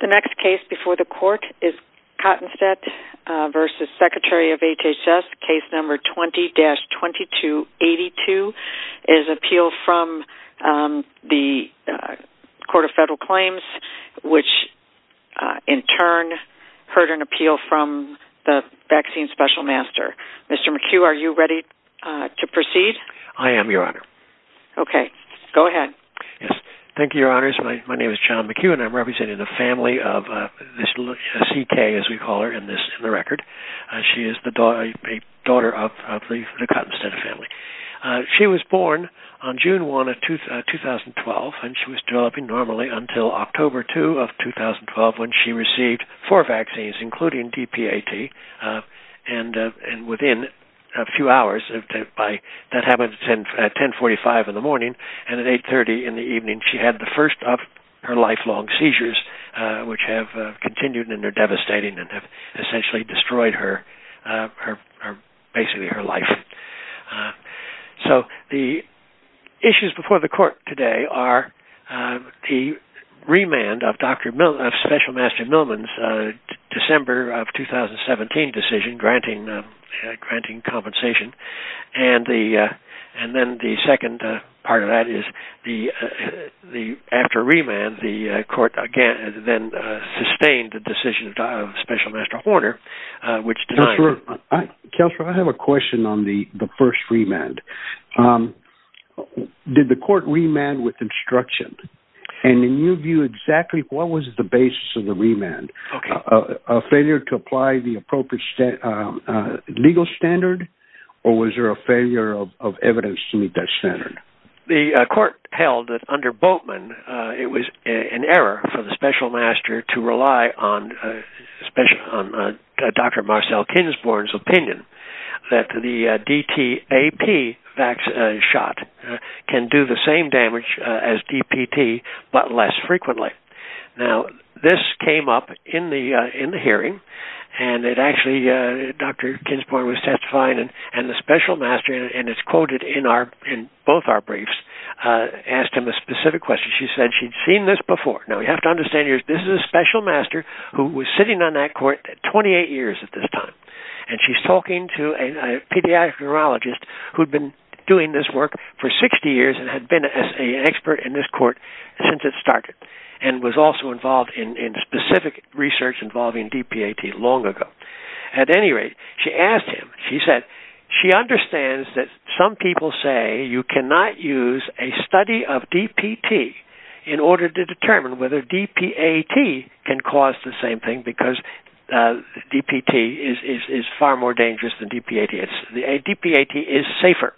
The next case before the court is Kottenstette v. Secretary of HHS. Case number 20-2282 is an appeal from the Court of Federal Claims, which in turn heard an appeal from the Vaccine Special Master. Mr. McHugh, are you ready to proceed? I am, Your Honor. Okay. Go ahead. Thank you, Your Honors. My name is John McHugh, and I'm representing the family of C.K., as we call her in the record. She is the daughter of the Kottenstette family. She was born on June 1, 2012, and she was developing normally until October 2 of 2012 when she received four vaccines, including DPAT, and within a few hours, that happened at 1045 in the morning, and at 830 in the evening, she had the first of her lifelong seizures, which have continued and are devastating and have essentially destroyed her, basically her life. So the issues before the court today are the remand of Special Master Millman's December of 2017 decision granting compensation, and then the second part of that is after remand, the court again then sustained the decision of Special Master Horner, which denied it. Counselor, I have a question on the first remand. Did the court remand with instruction? And in your view, exactly what was the basis of the remand? A failure to apply the appropriate legal standard, or was there a failure of evidence to meet that standard? The court held that under Boltman, it was an error for the Special Master to rely on Dr. Marcel Kinsborn's opinion that the DTAP vaccine shot can do the same damage as DPT, but less frequently. Now, this came up in the hearing, and Dr. Kinsborn was testifying, and the Special Master, and it's quoted in both our briefs, asked him a specific question. She said she'd seen this before. Now, you have to understand, this is a Special Master who was sitting on that court 28 years at this time, and she's talking to a pediatric neurologist who'd been doing this work for 60 years and had been an expert in this court since it started. And was also involved in specific research involving DPAT long ago. At any rate, she asked him, she said, she understands that some people say you cannot use a study of DPT in order to determine whether DPAT can cause the same thing, because DPT is far more dangerous than DPAT. DPAT is safer.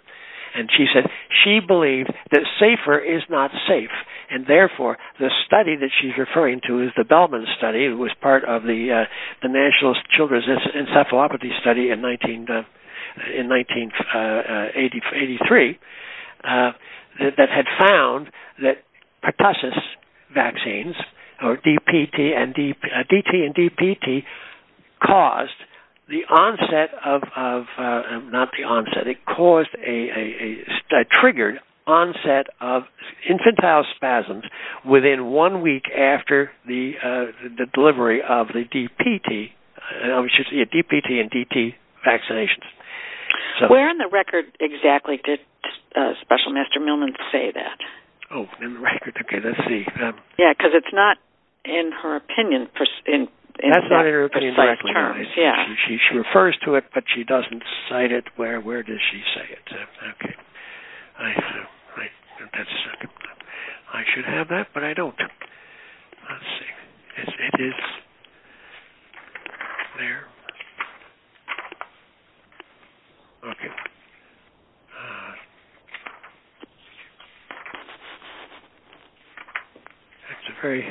And she said she believed that safer is not safe, and therefore, the study that she's referring to is the Bellman study, which was part of the National Children's Encephalopathy Study in 1983, that had found that pertussis vaccines, or DPT and DPT caused the onset of, not the onset, it triggered onset of infantile spasms within one week after the delivery of the DPT and DPT vaccinations. Where in the record exactly did Special Master Millman say that? Oh, in the record? Okay, let's see. Yeah, because it's not in her opinion. She refers to it, but she doesn't cite it. Where does she say it? I should have that, but I don't. Let's see. Is it there? Okay. That's a very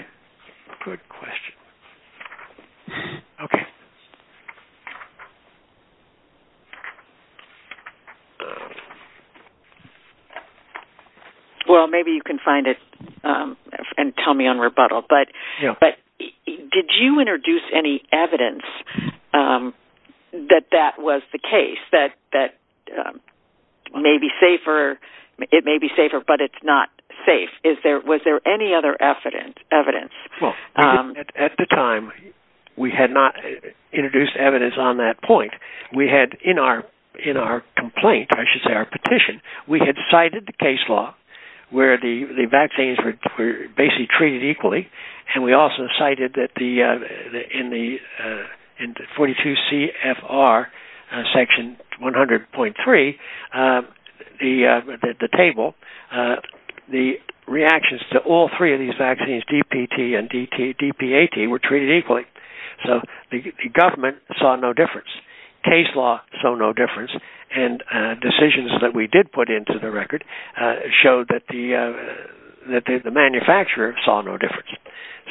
good question. Okay. Well, maybe you can find it and tell me on rebuttal, but did you introduce any evidence that that was the case, that it may be safer, but it's not safe? Was there any other evidence? Well, at the time, we had not introduced evidence on that point. We had, in our complaint, I should say our petition, we had cited the case law where the vaccines were basically treated equally, and we also cited that in the 42 CFR section 100.3, the table, the reactions to all three of these vaccines, DPT and DPAT, were treated equally. So the government saw no difference. Case law saw no difference, and decisions that we did put into the record showed that the manufacturer saw no difference.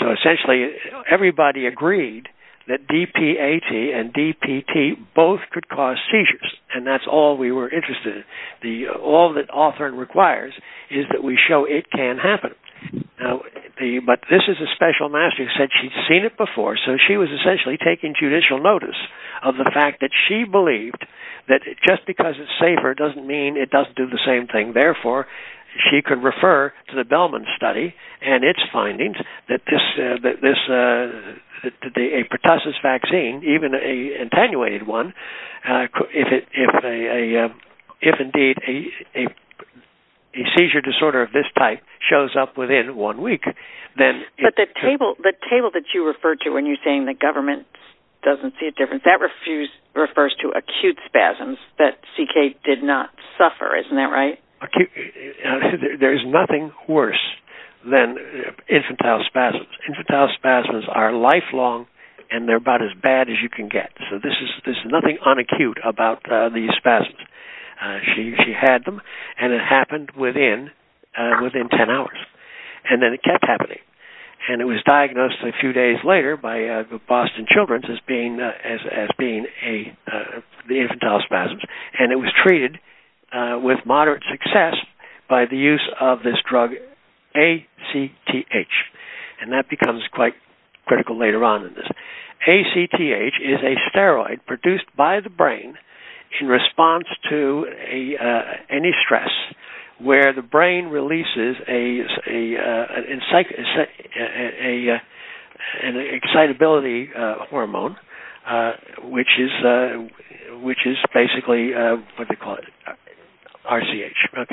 So essentially, everybody agreed that DPAT and DPT both could cause seizures, and that's all we were interested in. All that author requires is that we show it can happen. But this is a special master who said she'd seen it before, so she was essentially taking judicial notice of the fact that she believed that just because it's safer doesn't mean it doesn't do the same thing. If a seizure disorder of this type shows up within one week, then it's... But the table that you refer to when you're saying the government doesn't see a difference, that refers to acute spasms that CK did not suffer, isn't that right? There's nothing worse than infantile spasms. Infantile spasms are lifelong, and they're about as bad as you can get. So there's nothing unacute about these spasms. She had them, and it happened within 10 hours. And then it kept happening. And it was diagnosed a few days later by Boston Children's as being the infantile spasms. And it was treated with moderate success by the use of this drug ACTH, and that becomes quite critical later on in this. ACTH is a steroid produced by the brain in response to any stress where the brain releases an excitability hormone, which is basically RCH.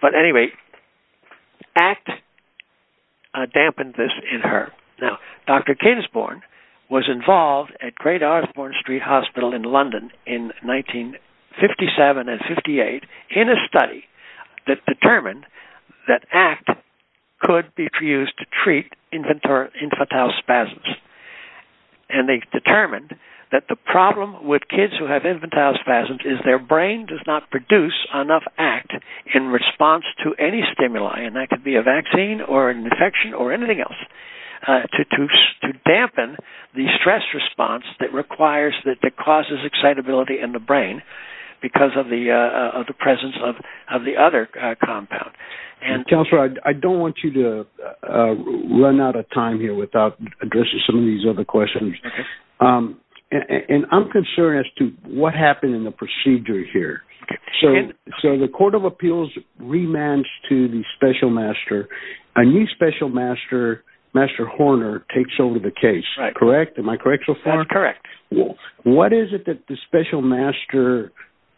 But anyway, ACT dampened this in her. Now, Dr. Kingsborn was involved at Great Osborne Street Hospital in London in 1957 and 58 in a study that determined that ACT could be used to treat infantile spasms. And they determined that the problem with kids who have infantile spasms is their brain does not produce enough ACT in response to any stimuli, and that could be a vaccine or an infection or anything else. So it's important to dampen the stress response that causes excitability in the brain because of the presence of the other compound. Counselor, I don't want you to run out of time here without addressing some of these other questions. And I'm concerned as to what happened in the procedure here. So the court of appeals remands to the special master. A new special master, Master Horner, takes over the case. Am I correct so far? That's correct. What is it that the special master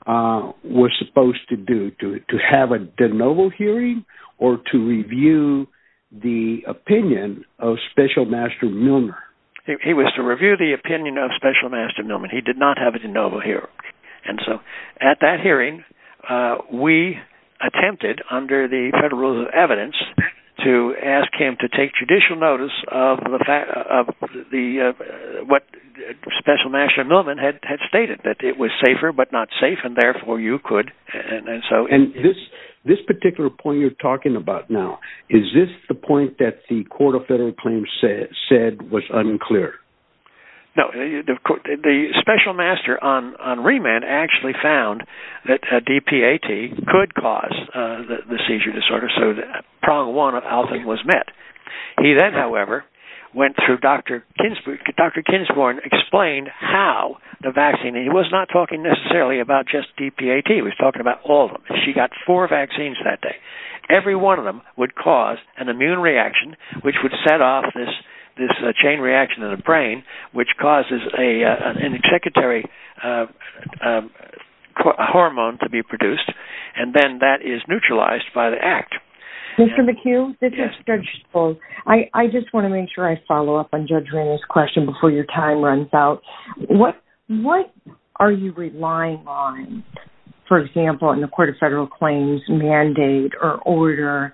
was supposed to do, to have a de novo hearing or to review the opinion of special master Milner? He was to review the opinion of special master Milner. He did not have a de novo hearing. And so at that hearing, we attempted, under the federal rules of evidence, to ask him to take judicial notice of what special master Milner had stated, that it was safer but not safe and therefore you could. And this particular point you're talking about now, is this the point that the court of federal claims said was unclear? No. The special master on remand actually found that DPAT could cause the seizure disorder. So the prong one of Alvin was met. He then, however, went through Dr. Kinsporn. Dr. Kinsporn explained how the vaccine. He was not talking necessarily about just DPAT. He was talking about all of them. She got four vaccines that day. Every one of them would cause an immune reaction, which would set off this chain reaction in the brain, which causes an executory hormone to be produced. And then that is neutralized by the act. Mr. McHugh, this is Judge Schultz. I just want to make sure I follow up on Judge Renner's question before your time runs out. What are you relying on, for example, in the court of federal claims mandate or order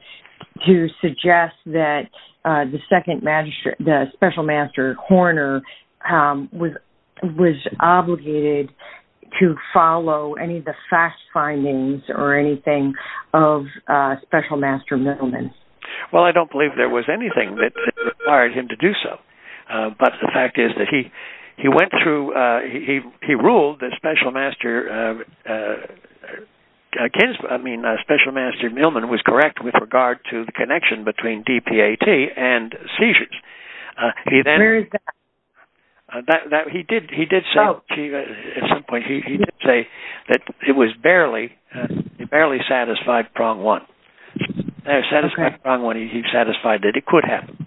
to suggest that the second magistrate, the special master Horner, was obligated to follow any of the fact findings or anything of special master Mittelman? Well, I don't believe there was anything that required him to do so. But the fact is that he ruled that special master Millman was correct with regard to the connection between DPAT and seizures. He did say at some point that it was barely satisfied prong one. Satisfied prong one, he satisfied that it could happen.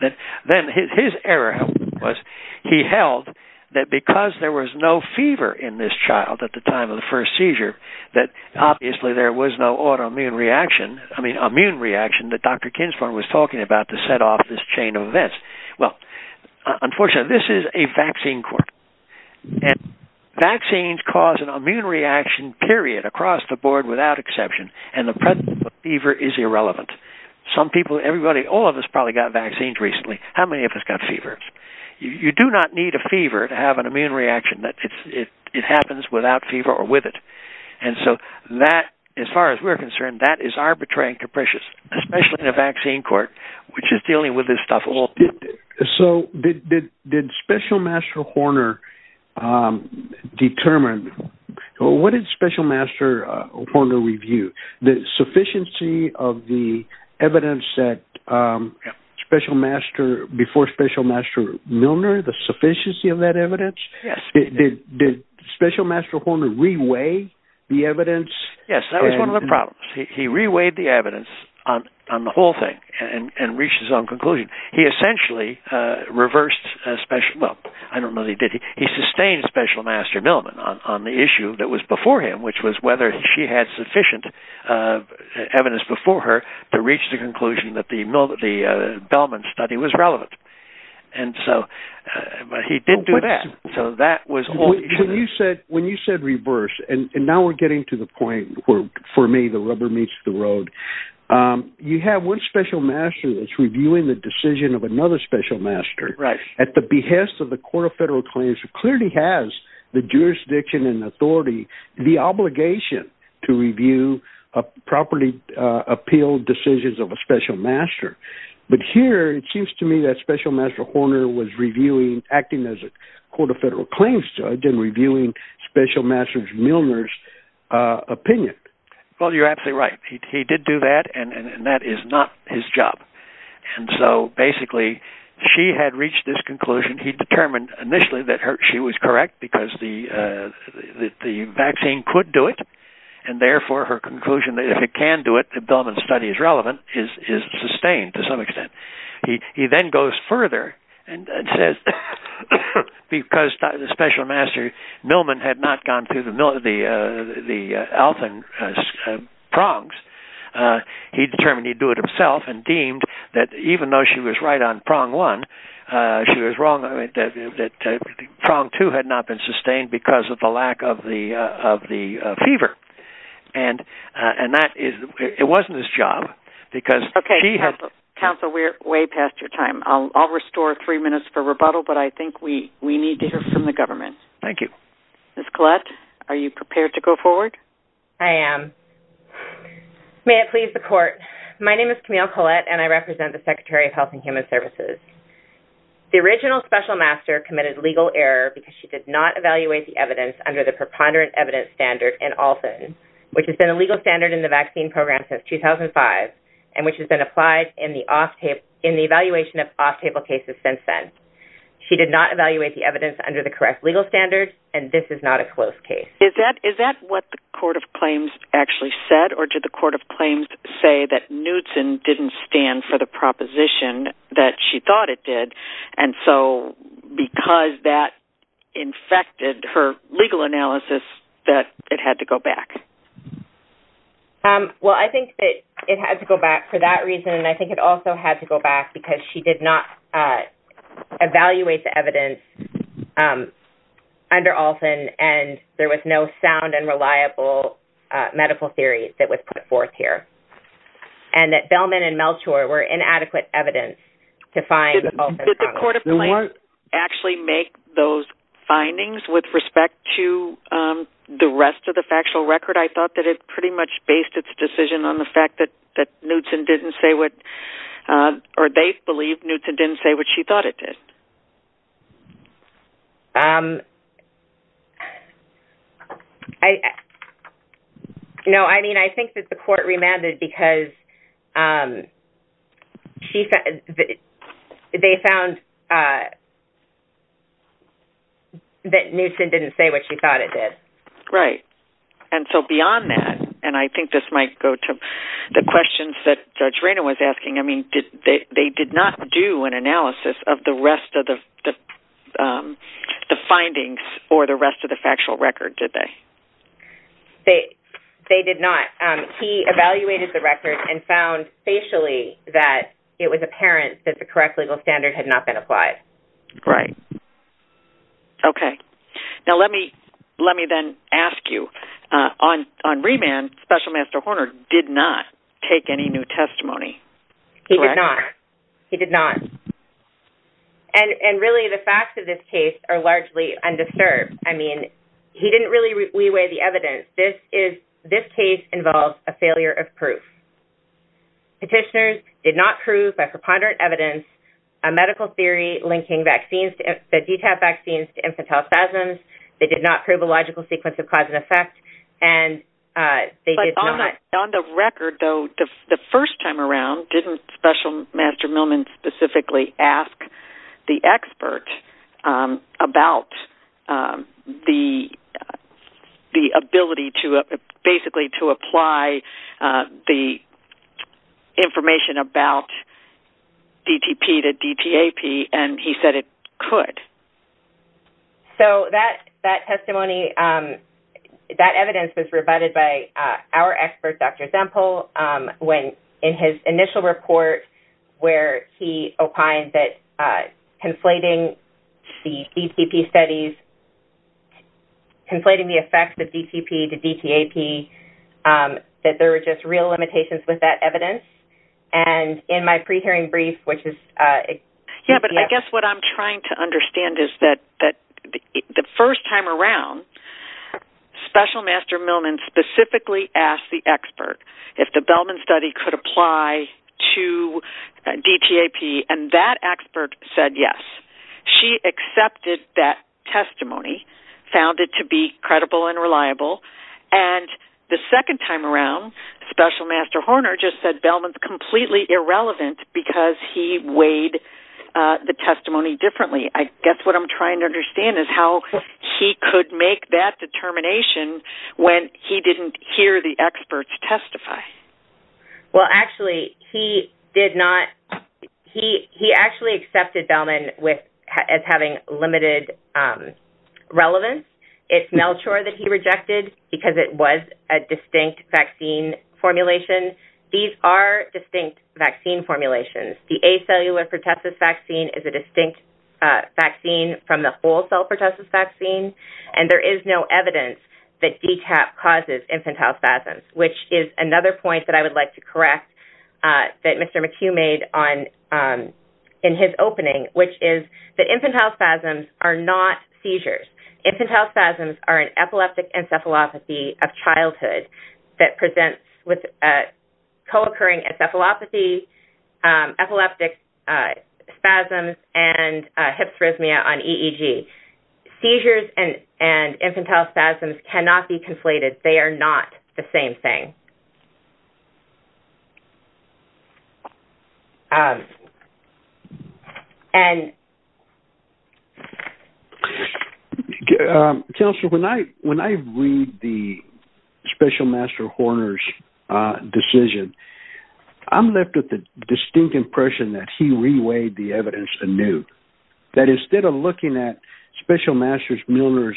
Then his error was he held that because there was no fever in this child at the time of the first seizure, that obviously there was no autoimmune reaction, I mean immune reaction, that Dr. Kinsmore was talking about to set off this chain of events. Well, unfortunately, this is a vaccine court. Vaccines cause an immune reaction, period, across the board without exception. And the presence of fever is irrelevant. Some people, everybody, all of us probably got vaccines recently. How many of us got fevers? You do not need a fever to have an immune reaction. It happens without fever or with it. And so that, as far as we're concerned, that is arbitrary and capricious, especially in a vaccine court, which is dealing with this stuff all day. So did Special Master Horner determine, what did Special Master Horner review? The sufficiency of the evidence that Special Master, before Special Master Milner, the sufficiency of that evidence? Yes. Did Special Master Horner re-weigh the evidence? Yes, that was one of the problems. He re-weighed the evidence on the whole thing and reached his own conclusion. He essentially reversed Special Master Milner on the issue that was before him, which was whether she had sufficient evidence before her to reach the conclusion that the Milner study was relevant. But he didn't do that. When you said reverse, and now we're getting to the point where, for me, the rubber meets the road, you have one Special Master that's reviewing the decision of another Special Master at the behest of the Court of Federal Claims, who clearly has the jurisdiction and authority, the obligation, to review property appeal decisions of a Special Master. But here, it seems to me that Special Master Horner was acting as a Court of Federal Claims judge and reviewing Special Master Milner's opinion. Well, you're absolutely right. He did do that, and that is not his job. And so, basically, she had reached this conclusion. He determined initially that she was correct because the vaccine could do it, and therefore her conclusion that if it can do it, the Billman study is relevant, is sustained to some extent. He then goes further and says that because Special Master Milner had not gone through the Alton prongs, he determined he'd do it himself and deemed that even though she was right on prong one, she was wrong that prong two had not been sustained because of the lack of the fever. And it wasn't his job because she had... Okay. Counsel, we're way past your time. I'll restore three minutes for rebuttal, but I think we need to hear from the government. Thank you. Ms. Collette, are you prepared to go forward? I am. May it please the Court, my name is Camille Collette, and I represent the Secretary of Health and Human Services. The original Special Master committed legal error because she did not evaluate the evidence under the preponderant evidence standard in Alton, which has been a legal standard in the vaccine program since 2005 and which has been applied in the evaluation of off-table cases since then. She did not evaluate the evidence under the correct legal standard, and this is not a closed case. Is that what the Court of Claims actually said, or did the Court of Claims say that Newtson didn't stand for the proposition that she thought it did? And so because that infected her legal analysis, that it had to go back. Well, I think that it had to go back for that reason, and I think it also had to go back because she did not evaluate the evidence under Alton and there was no sound and reliable medical theory that was put forth here, and that Bellman and Melchor were inadequate evidence to find Alton. Did the Court of Claims actually make those findings with respect to the rest of the factual record? I thought that it pretty much based its decision on the fact that Newtson didn't say what, or they believed Newtson didn't say what she thought it did. No, I mean, I think that the Court remanded because they found that Newtson didn't say what she thought it did. Right, and so beyond that, and I think this might go to the questions that Judge Raynor was asking, I mean, they did not do an analysis of the rest of the findings or the rest of the factual record, did they? They did not. He evaluated the record and found facially that it was apparent that the correct legal standard had not been applied. Right. Okay. Now let me then ask you, on remand, Special Master Horner did not take any new testimony, correct? He did not. He did not. And really the facts of this case are largely undisturbed. I mean, he didn't really weigh the evidence. This case involves a failure of proof. Petitioners did not prove by preponderant evidence a medical theory linking the DTaP vaccines to infantile spasms. They did not prove a logical sequence of cause and effect. On the record, though, the first time around, didn't Special Master Millman specifically ask the expert about the ability basically to apply the information about DTP to DTaP, and he said it could? So that testimony, that evidence was rebutted by our expert, Dr. Zempel, when in his initial report, where he opined that conflating the DTP studies, conflating the effects of DTP to DTaP, that there were just real limitations with that evidence. And in my pre-hearing brief, which is – Yeah, but I guess what I'm trying to understand is that the first time around, Special Master Millman specifically asked the expert if the Bellman study could apply to DTaP, and that expert said yes. She accepted that testimony, found it to be credible and reliable, and the second time around, Special Master Horner just said Bellman's completely irrelevant because he weighed the testimony differently. I guess what I'm trying to understand is how he could make that determination when he didn't hear the experts testify. Well, actually, he did not – he actually accepted Bellman as having limited relevance. It's Melchor that he rejected because it was a distinct vaccine formulation. These are distinct vaccine formulations. The A-cellular pertussis vaccine is a distinct vaccine from the whole-cell pertussis vaccine, and there is no evidence that DTaP causes infantile spasms, which is another point that I would like to correct that Mr. McHugh made in his opening, which is that infantile spasms are not seizures. Infantile spasms are an epileptic encephalopathy of childhood that presents with co-occurring encephalopathy, epileptic spasms, and hypsarrhythmia on EEG. Seizures and infantile spasms cannot be conflated. And... Counselor, when I read the special master Horner's decision, I'm left with the distinct impression that he reweighed the evidence anew, that instead of looking at special master Milner's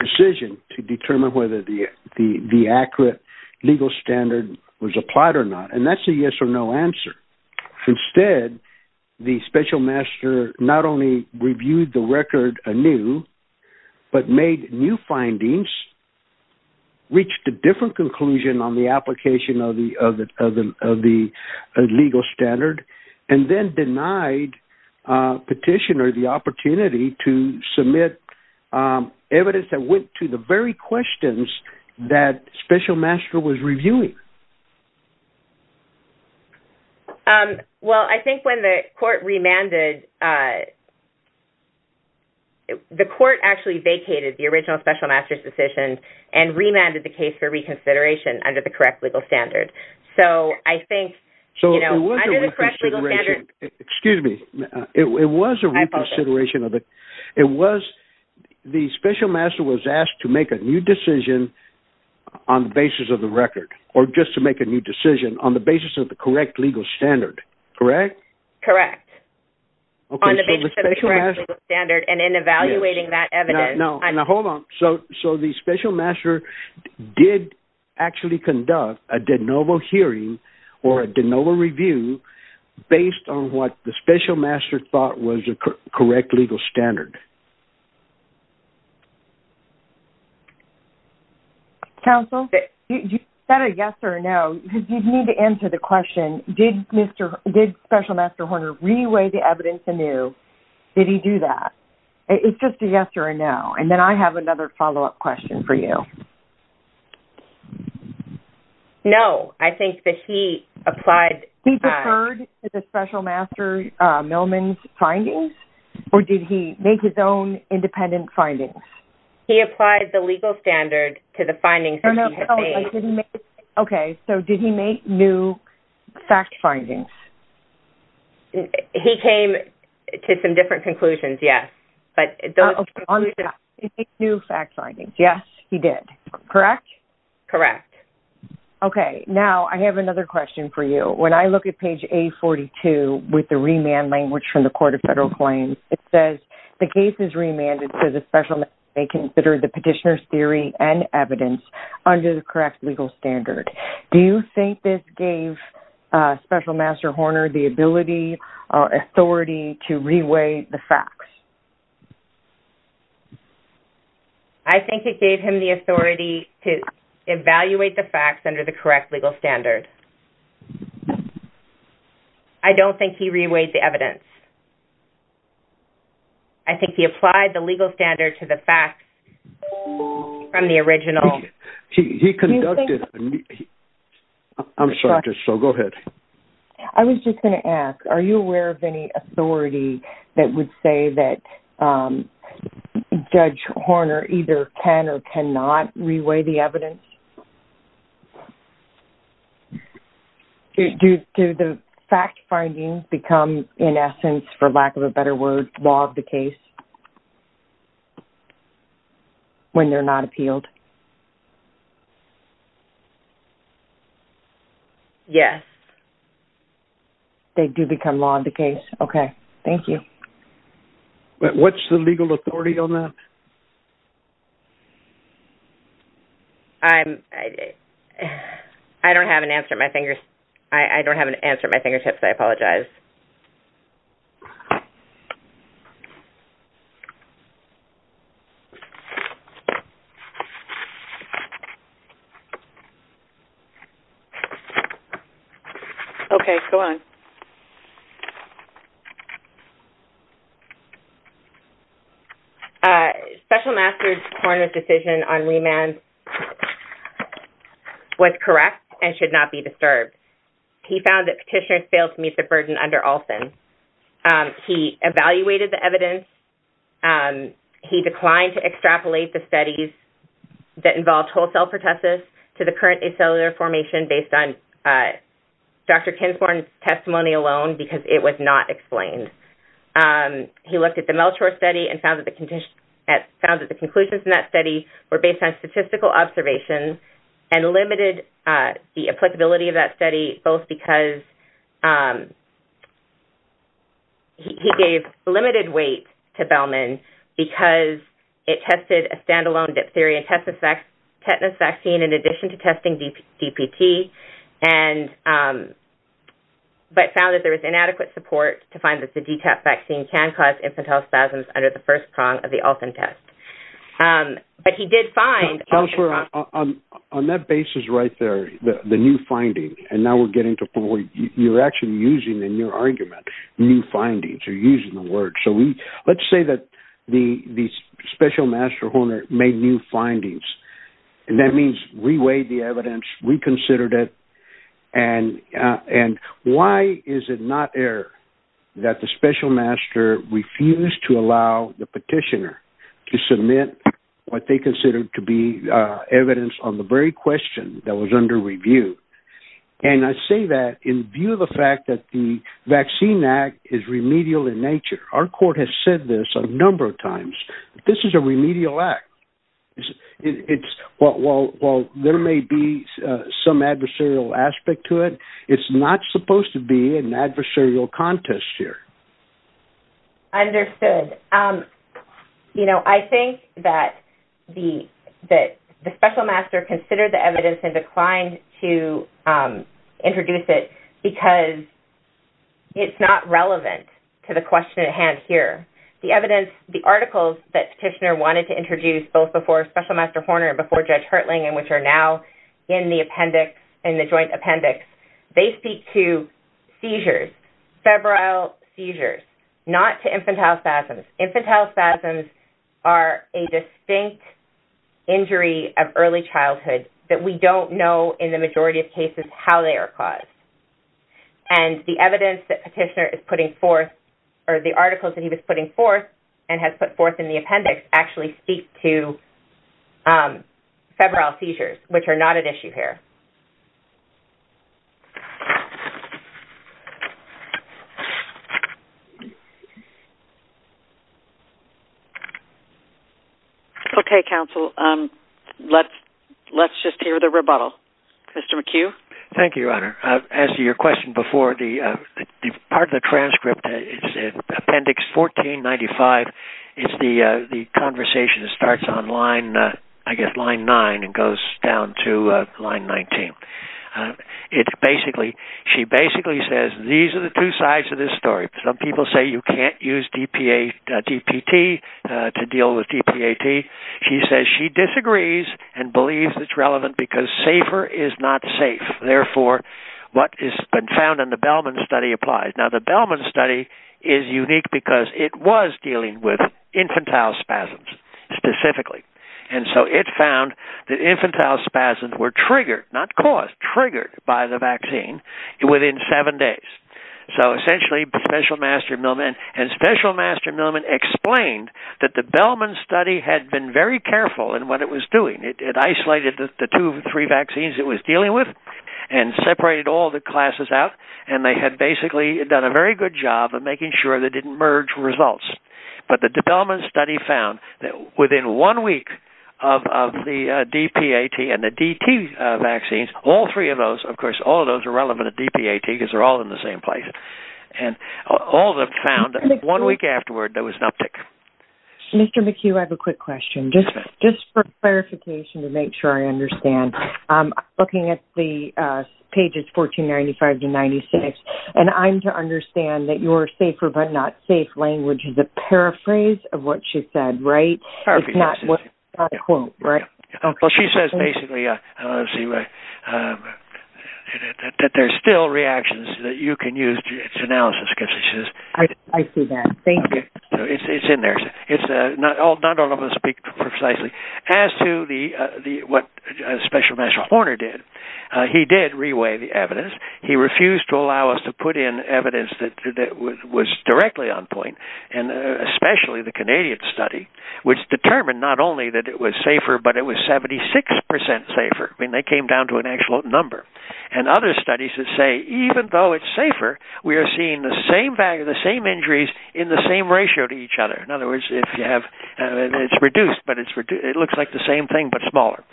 decision to determine whether the accurate legal standard was applied or not, and that's a yes or no answer. Instead, the special master not only reviewed the record anew, but made new findings, reached a different conclusion on the application of the legal standard, and then denied petitioner the opportunity to submit evidence that went to the very questions that special master was reviewing. Well, I think when the court remanded... The court actually vacated the original special master's decision and remanded the case for reconsideration under the correct legal standard. So I think, you know... So it was a reconsideration. It was a reconsideration of the... I apologize. It was... The special master was asked to make a new decision on the basis of the record, or just to make a new decision on the basis of the correct legal standard, correct? Correct. On the basis of the correct legal standard and in evaluating that evidence. Now, hold on. So the special master did actually conduct a de novo hearing or a de novo review based on what the special master thought was the correct legal standard. Counsel? Is that a yes or a no? Because you'd need to answer the question, did special master Horner re-weigh the evidence anew? Did he do that? It's just a yes or a no. And then I have another follow-up question for you. No. I think that he applied... He deferred to the special master Millman's findings, or did he make his own independent findings? He applied the legal standard to the findings that he had made. Okay. So did he make new fact findings? He came to some different conclusions, yes. But those conclusions... He made new fact findings. Yes, he did. Correct? Correct. Okay. Now I have another question for you. When I look at page A42 with the remand language from the Court of Federal Claims, it says, the case is remanded so the special master may consider the petitioner's theory and evidence under the correct legal standard. Do you think this gave special master Horner the ability or authority to re-weigh the facts? I think it gave him the authority to evaluate the facts under the correct legal standard. I don't think he re-weighed the evidence. I think he applied the legal standard to the facts from the original... He conducted... I'm sorry, so go ahead. I was just going to ask, are you aware of any authority that would say that Judge Horner either can or cannot re-weigh the evidence? Do the fact findings become, in essence, for lack of a better word, law of the case? When they're not appealed? Yes. They do become law of the case. Okay, thank you. What's the legal authority on that? I'm... I don't have an answer at my fingers. I don't have an answer at my fingertips. I apologize. Okay, go on. Special Master's Horner's decision on remand was correct and should not be disturbed. He found that petitioners failed to meet the burden under Olson. He evaluated the evidence. He declined to extrapolate the studies that involved whole-cell pertussis to the current acellular formation based on Dr Kinsmore's testimony because it was not explained. He looked at the Melchor study and found that the conclusions in that study were based on statistical observations and limited the applicability of that study both because he gave limited weight to Bellman because it tested a standalone diphtheria and tetanus vaccine in addition to testing DPT and... but found that there was inadequate support to find that the DTaP vaccine can cause infantile spasms under the first prong of the Olson test. But he did find... Councillor, on that basis right there, the new finding, and now we're getting to... You're actually using in your argument new findings. You're using the word. So, let's say that the Special Master Horner made new findings. And that means reweighed the evidence, reconsidered it, and why is it not error that the Special Master refused to allow the petitioner to submit what they considered to be evidence on the very question that was under review? And I say that in view of the fact that the Vaccine Act is remedial in nature. Our court has said this a number of times. This is a remedial act. It's... While there may be some adversarial aspect to it, it's not supposed to be an adversarial contest here. Understood. You know, I think that the Special Master considered the evidence and declined to introduce it because it's not relevant to the question at hand here. The evidence... The evidence that petitioner wanted to introduce both before Special Master Horner and before Judge Hertling and which are now in the appendix, in the joint appendix, they speak to seizures, febrile seizures, not to infantile spasms. Infantile spasms are a distinct injury of early childhood that we don't know in the majority of cases how they are caused. And the evidence that petitioner is putting forth or the articles that he was putting forth and has put forth in the appendix actually speak to febrile seizures, which are not at issue here. Okay, counsel. Let's just hear the rebuttal. Mr. McHugh? Thank you, Honor. As to your question before, part of the transcript, appendix 1495, is the conversation that starts on line, I guess, line nine and goes down to line 19. It basically... She basically says these are the two sides of this story. Some people say you can't use DPT to deal with DPAT. She says she disagrees and believes it's relevant because safer is not safe. Therefore, what has been found in the Bellman study applies. Now, the Bellman study is unique because it was dealing with infantile spasms, specifically. And so it found that infantile spasms were triggered, not caused, triggered by the vaccine within seven days. So essentially, Special Master Millman and Special Master Millman explained that the Bellman study had been very careful in what it was doing. It isolated the two, three vaccines it was dealing with and separated all the classes out. And they had basically done a very good job of making sure they didn't merge results. But the Bellman study found that within one week of the DPAT and the DT vaccines, all three of those, of course, all of those are relevant to DPAT because they're all in the same place. And all of them found that one week afterward, there was an uptick. Mr. McHugh, I have a quick question. Just for clarification to make sure I understand, looking at the pages 1495 to 96, and I'm to understand that your safer but not safe language is a paraphrase of what she said, right? It's not a quote, right? Well, she says basically that there's still reactions that you can use to analysis. I see that. Thank you. It's in there. Not all of them speak precisely. As to what Special Master Horner did, he did re-weigh the evidence. He refused to allow us to put in evidence that was directly on point, and especially the Canadian study, which determined not only that it was safer, but it was 76% safer. I mean, they came down to an actual number. And other studies that say even though it's safer, we are seeing the same value, the same injuries, in the same ratio to each other. In other words, it's reduced, but it looks like the same thing but smaller.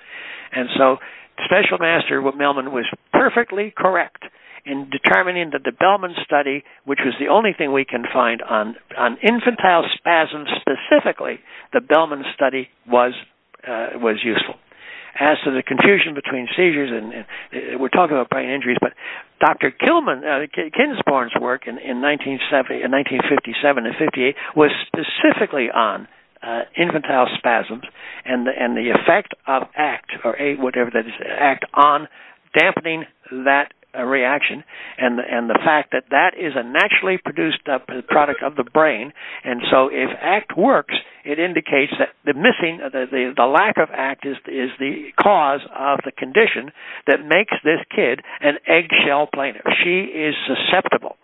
And so Special Master Millman was perfectly correct in determining that the Bellman study, which was the only thing we can find on infantile spasms specifically, the Bellman study was useful. As to the confusion between seizures, we're talking about brain injuries, but Dr. Kinsborn's work in 1957 and 58 was specifically on infantile spasms and the effect of ACT, or whatever that is, ACT on dampening that reaction, and the fact that that is a naturally produced product of the brain. And so if ACT works, it indicates that the missing, the lack of ACT is the cause of the condition that makes this kid an eggshell plaintiff. She is susceptible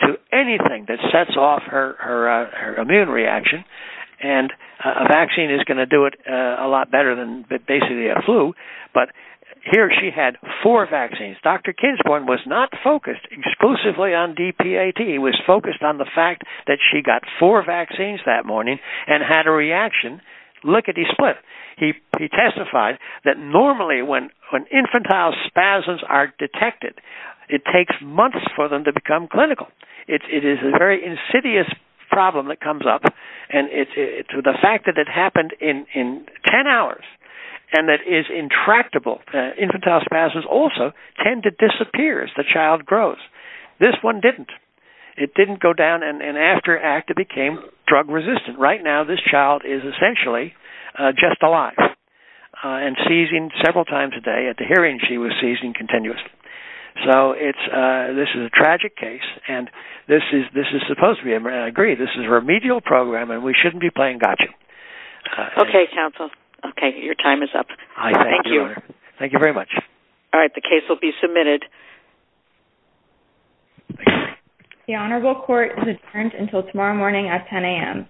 to anything that sets off her immune reaction, and a vaccine is going to do it a lot better than basically a flu. But here she had four vaccines. Dr. Kinsborn was not focused exclusively on DPAT. He was focused on the fact that she got four vaccines that morning and had a reaction. Look at his split. He testified that normally when infantile spasms are detected, it takes months for them to become clinical. It is a very insidious problem that comes up, and to the fact that it happened in 10 hours and that is intractable. Infantile spasms also tend to disappear as the child grows. This one didn't. It didn't go down, and after ACT, it became drug-resistant. Right now, this child is essentially just alive and seizing several times a day. At the hearing, she was seizing continuously. So this is a tragic case, and this is supposed to be a remedial program, and we shouldn't be playing gotcha. Okay, counsel. Okay, your time is up. Thank you. Thank you very much. All right, the case will be submitted. The Honorable Court is adjourned until tomorrow morning at 10 a.m.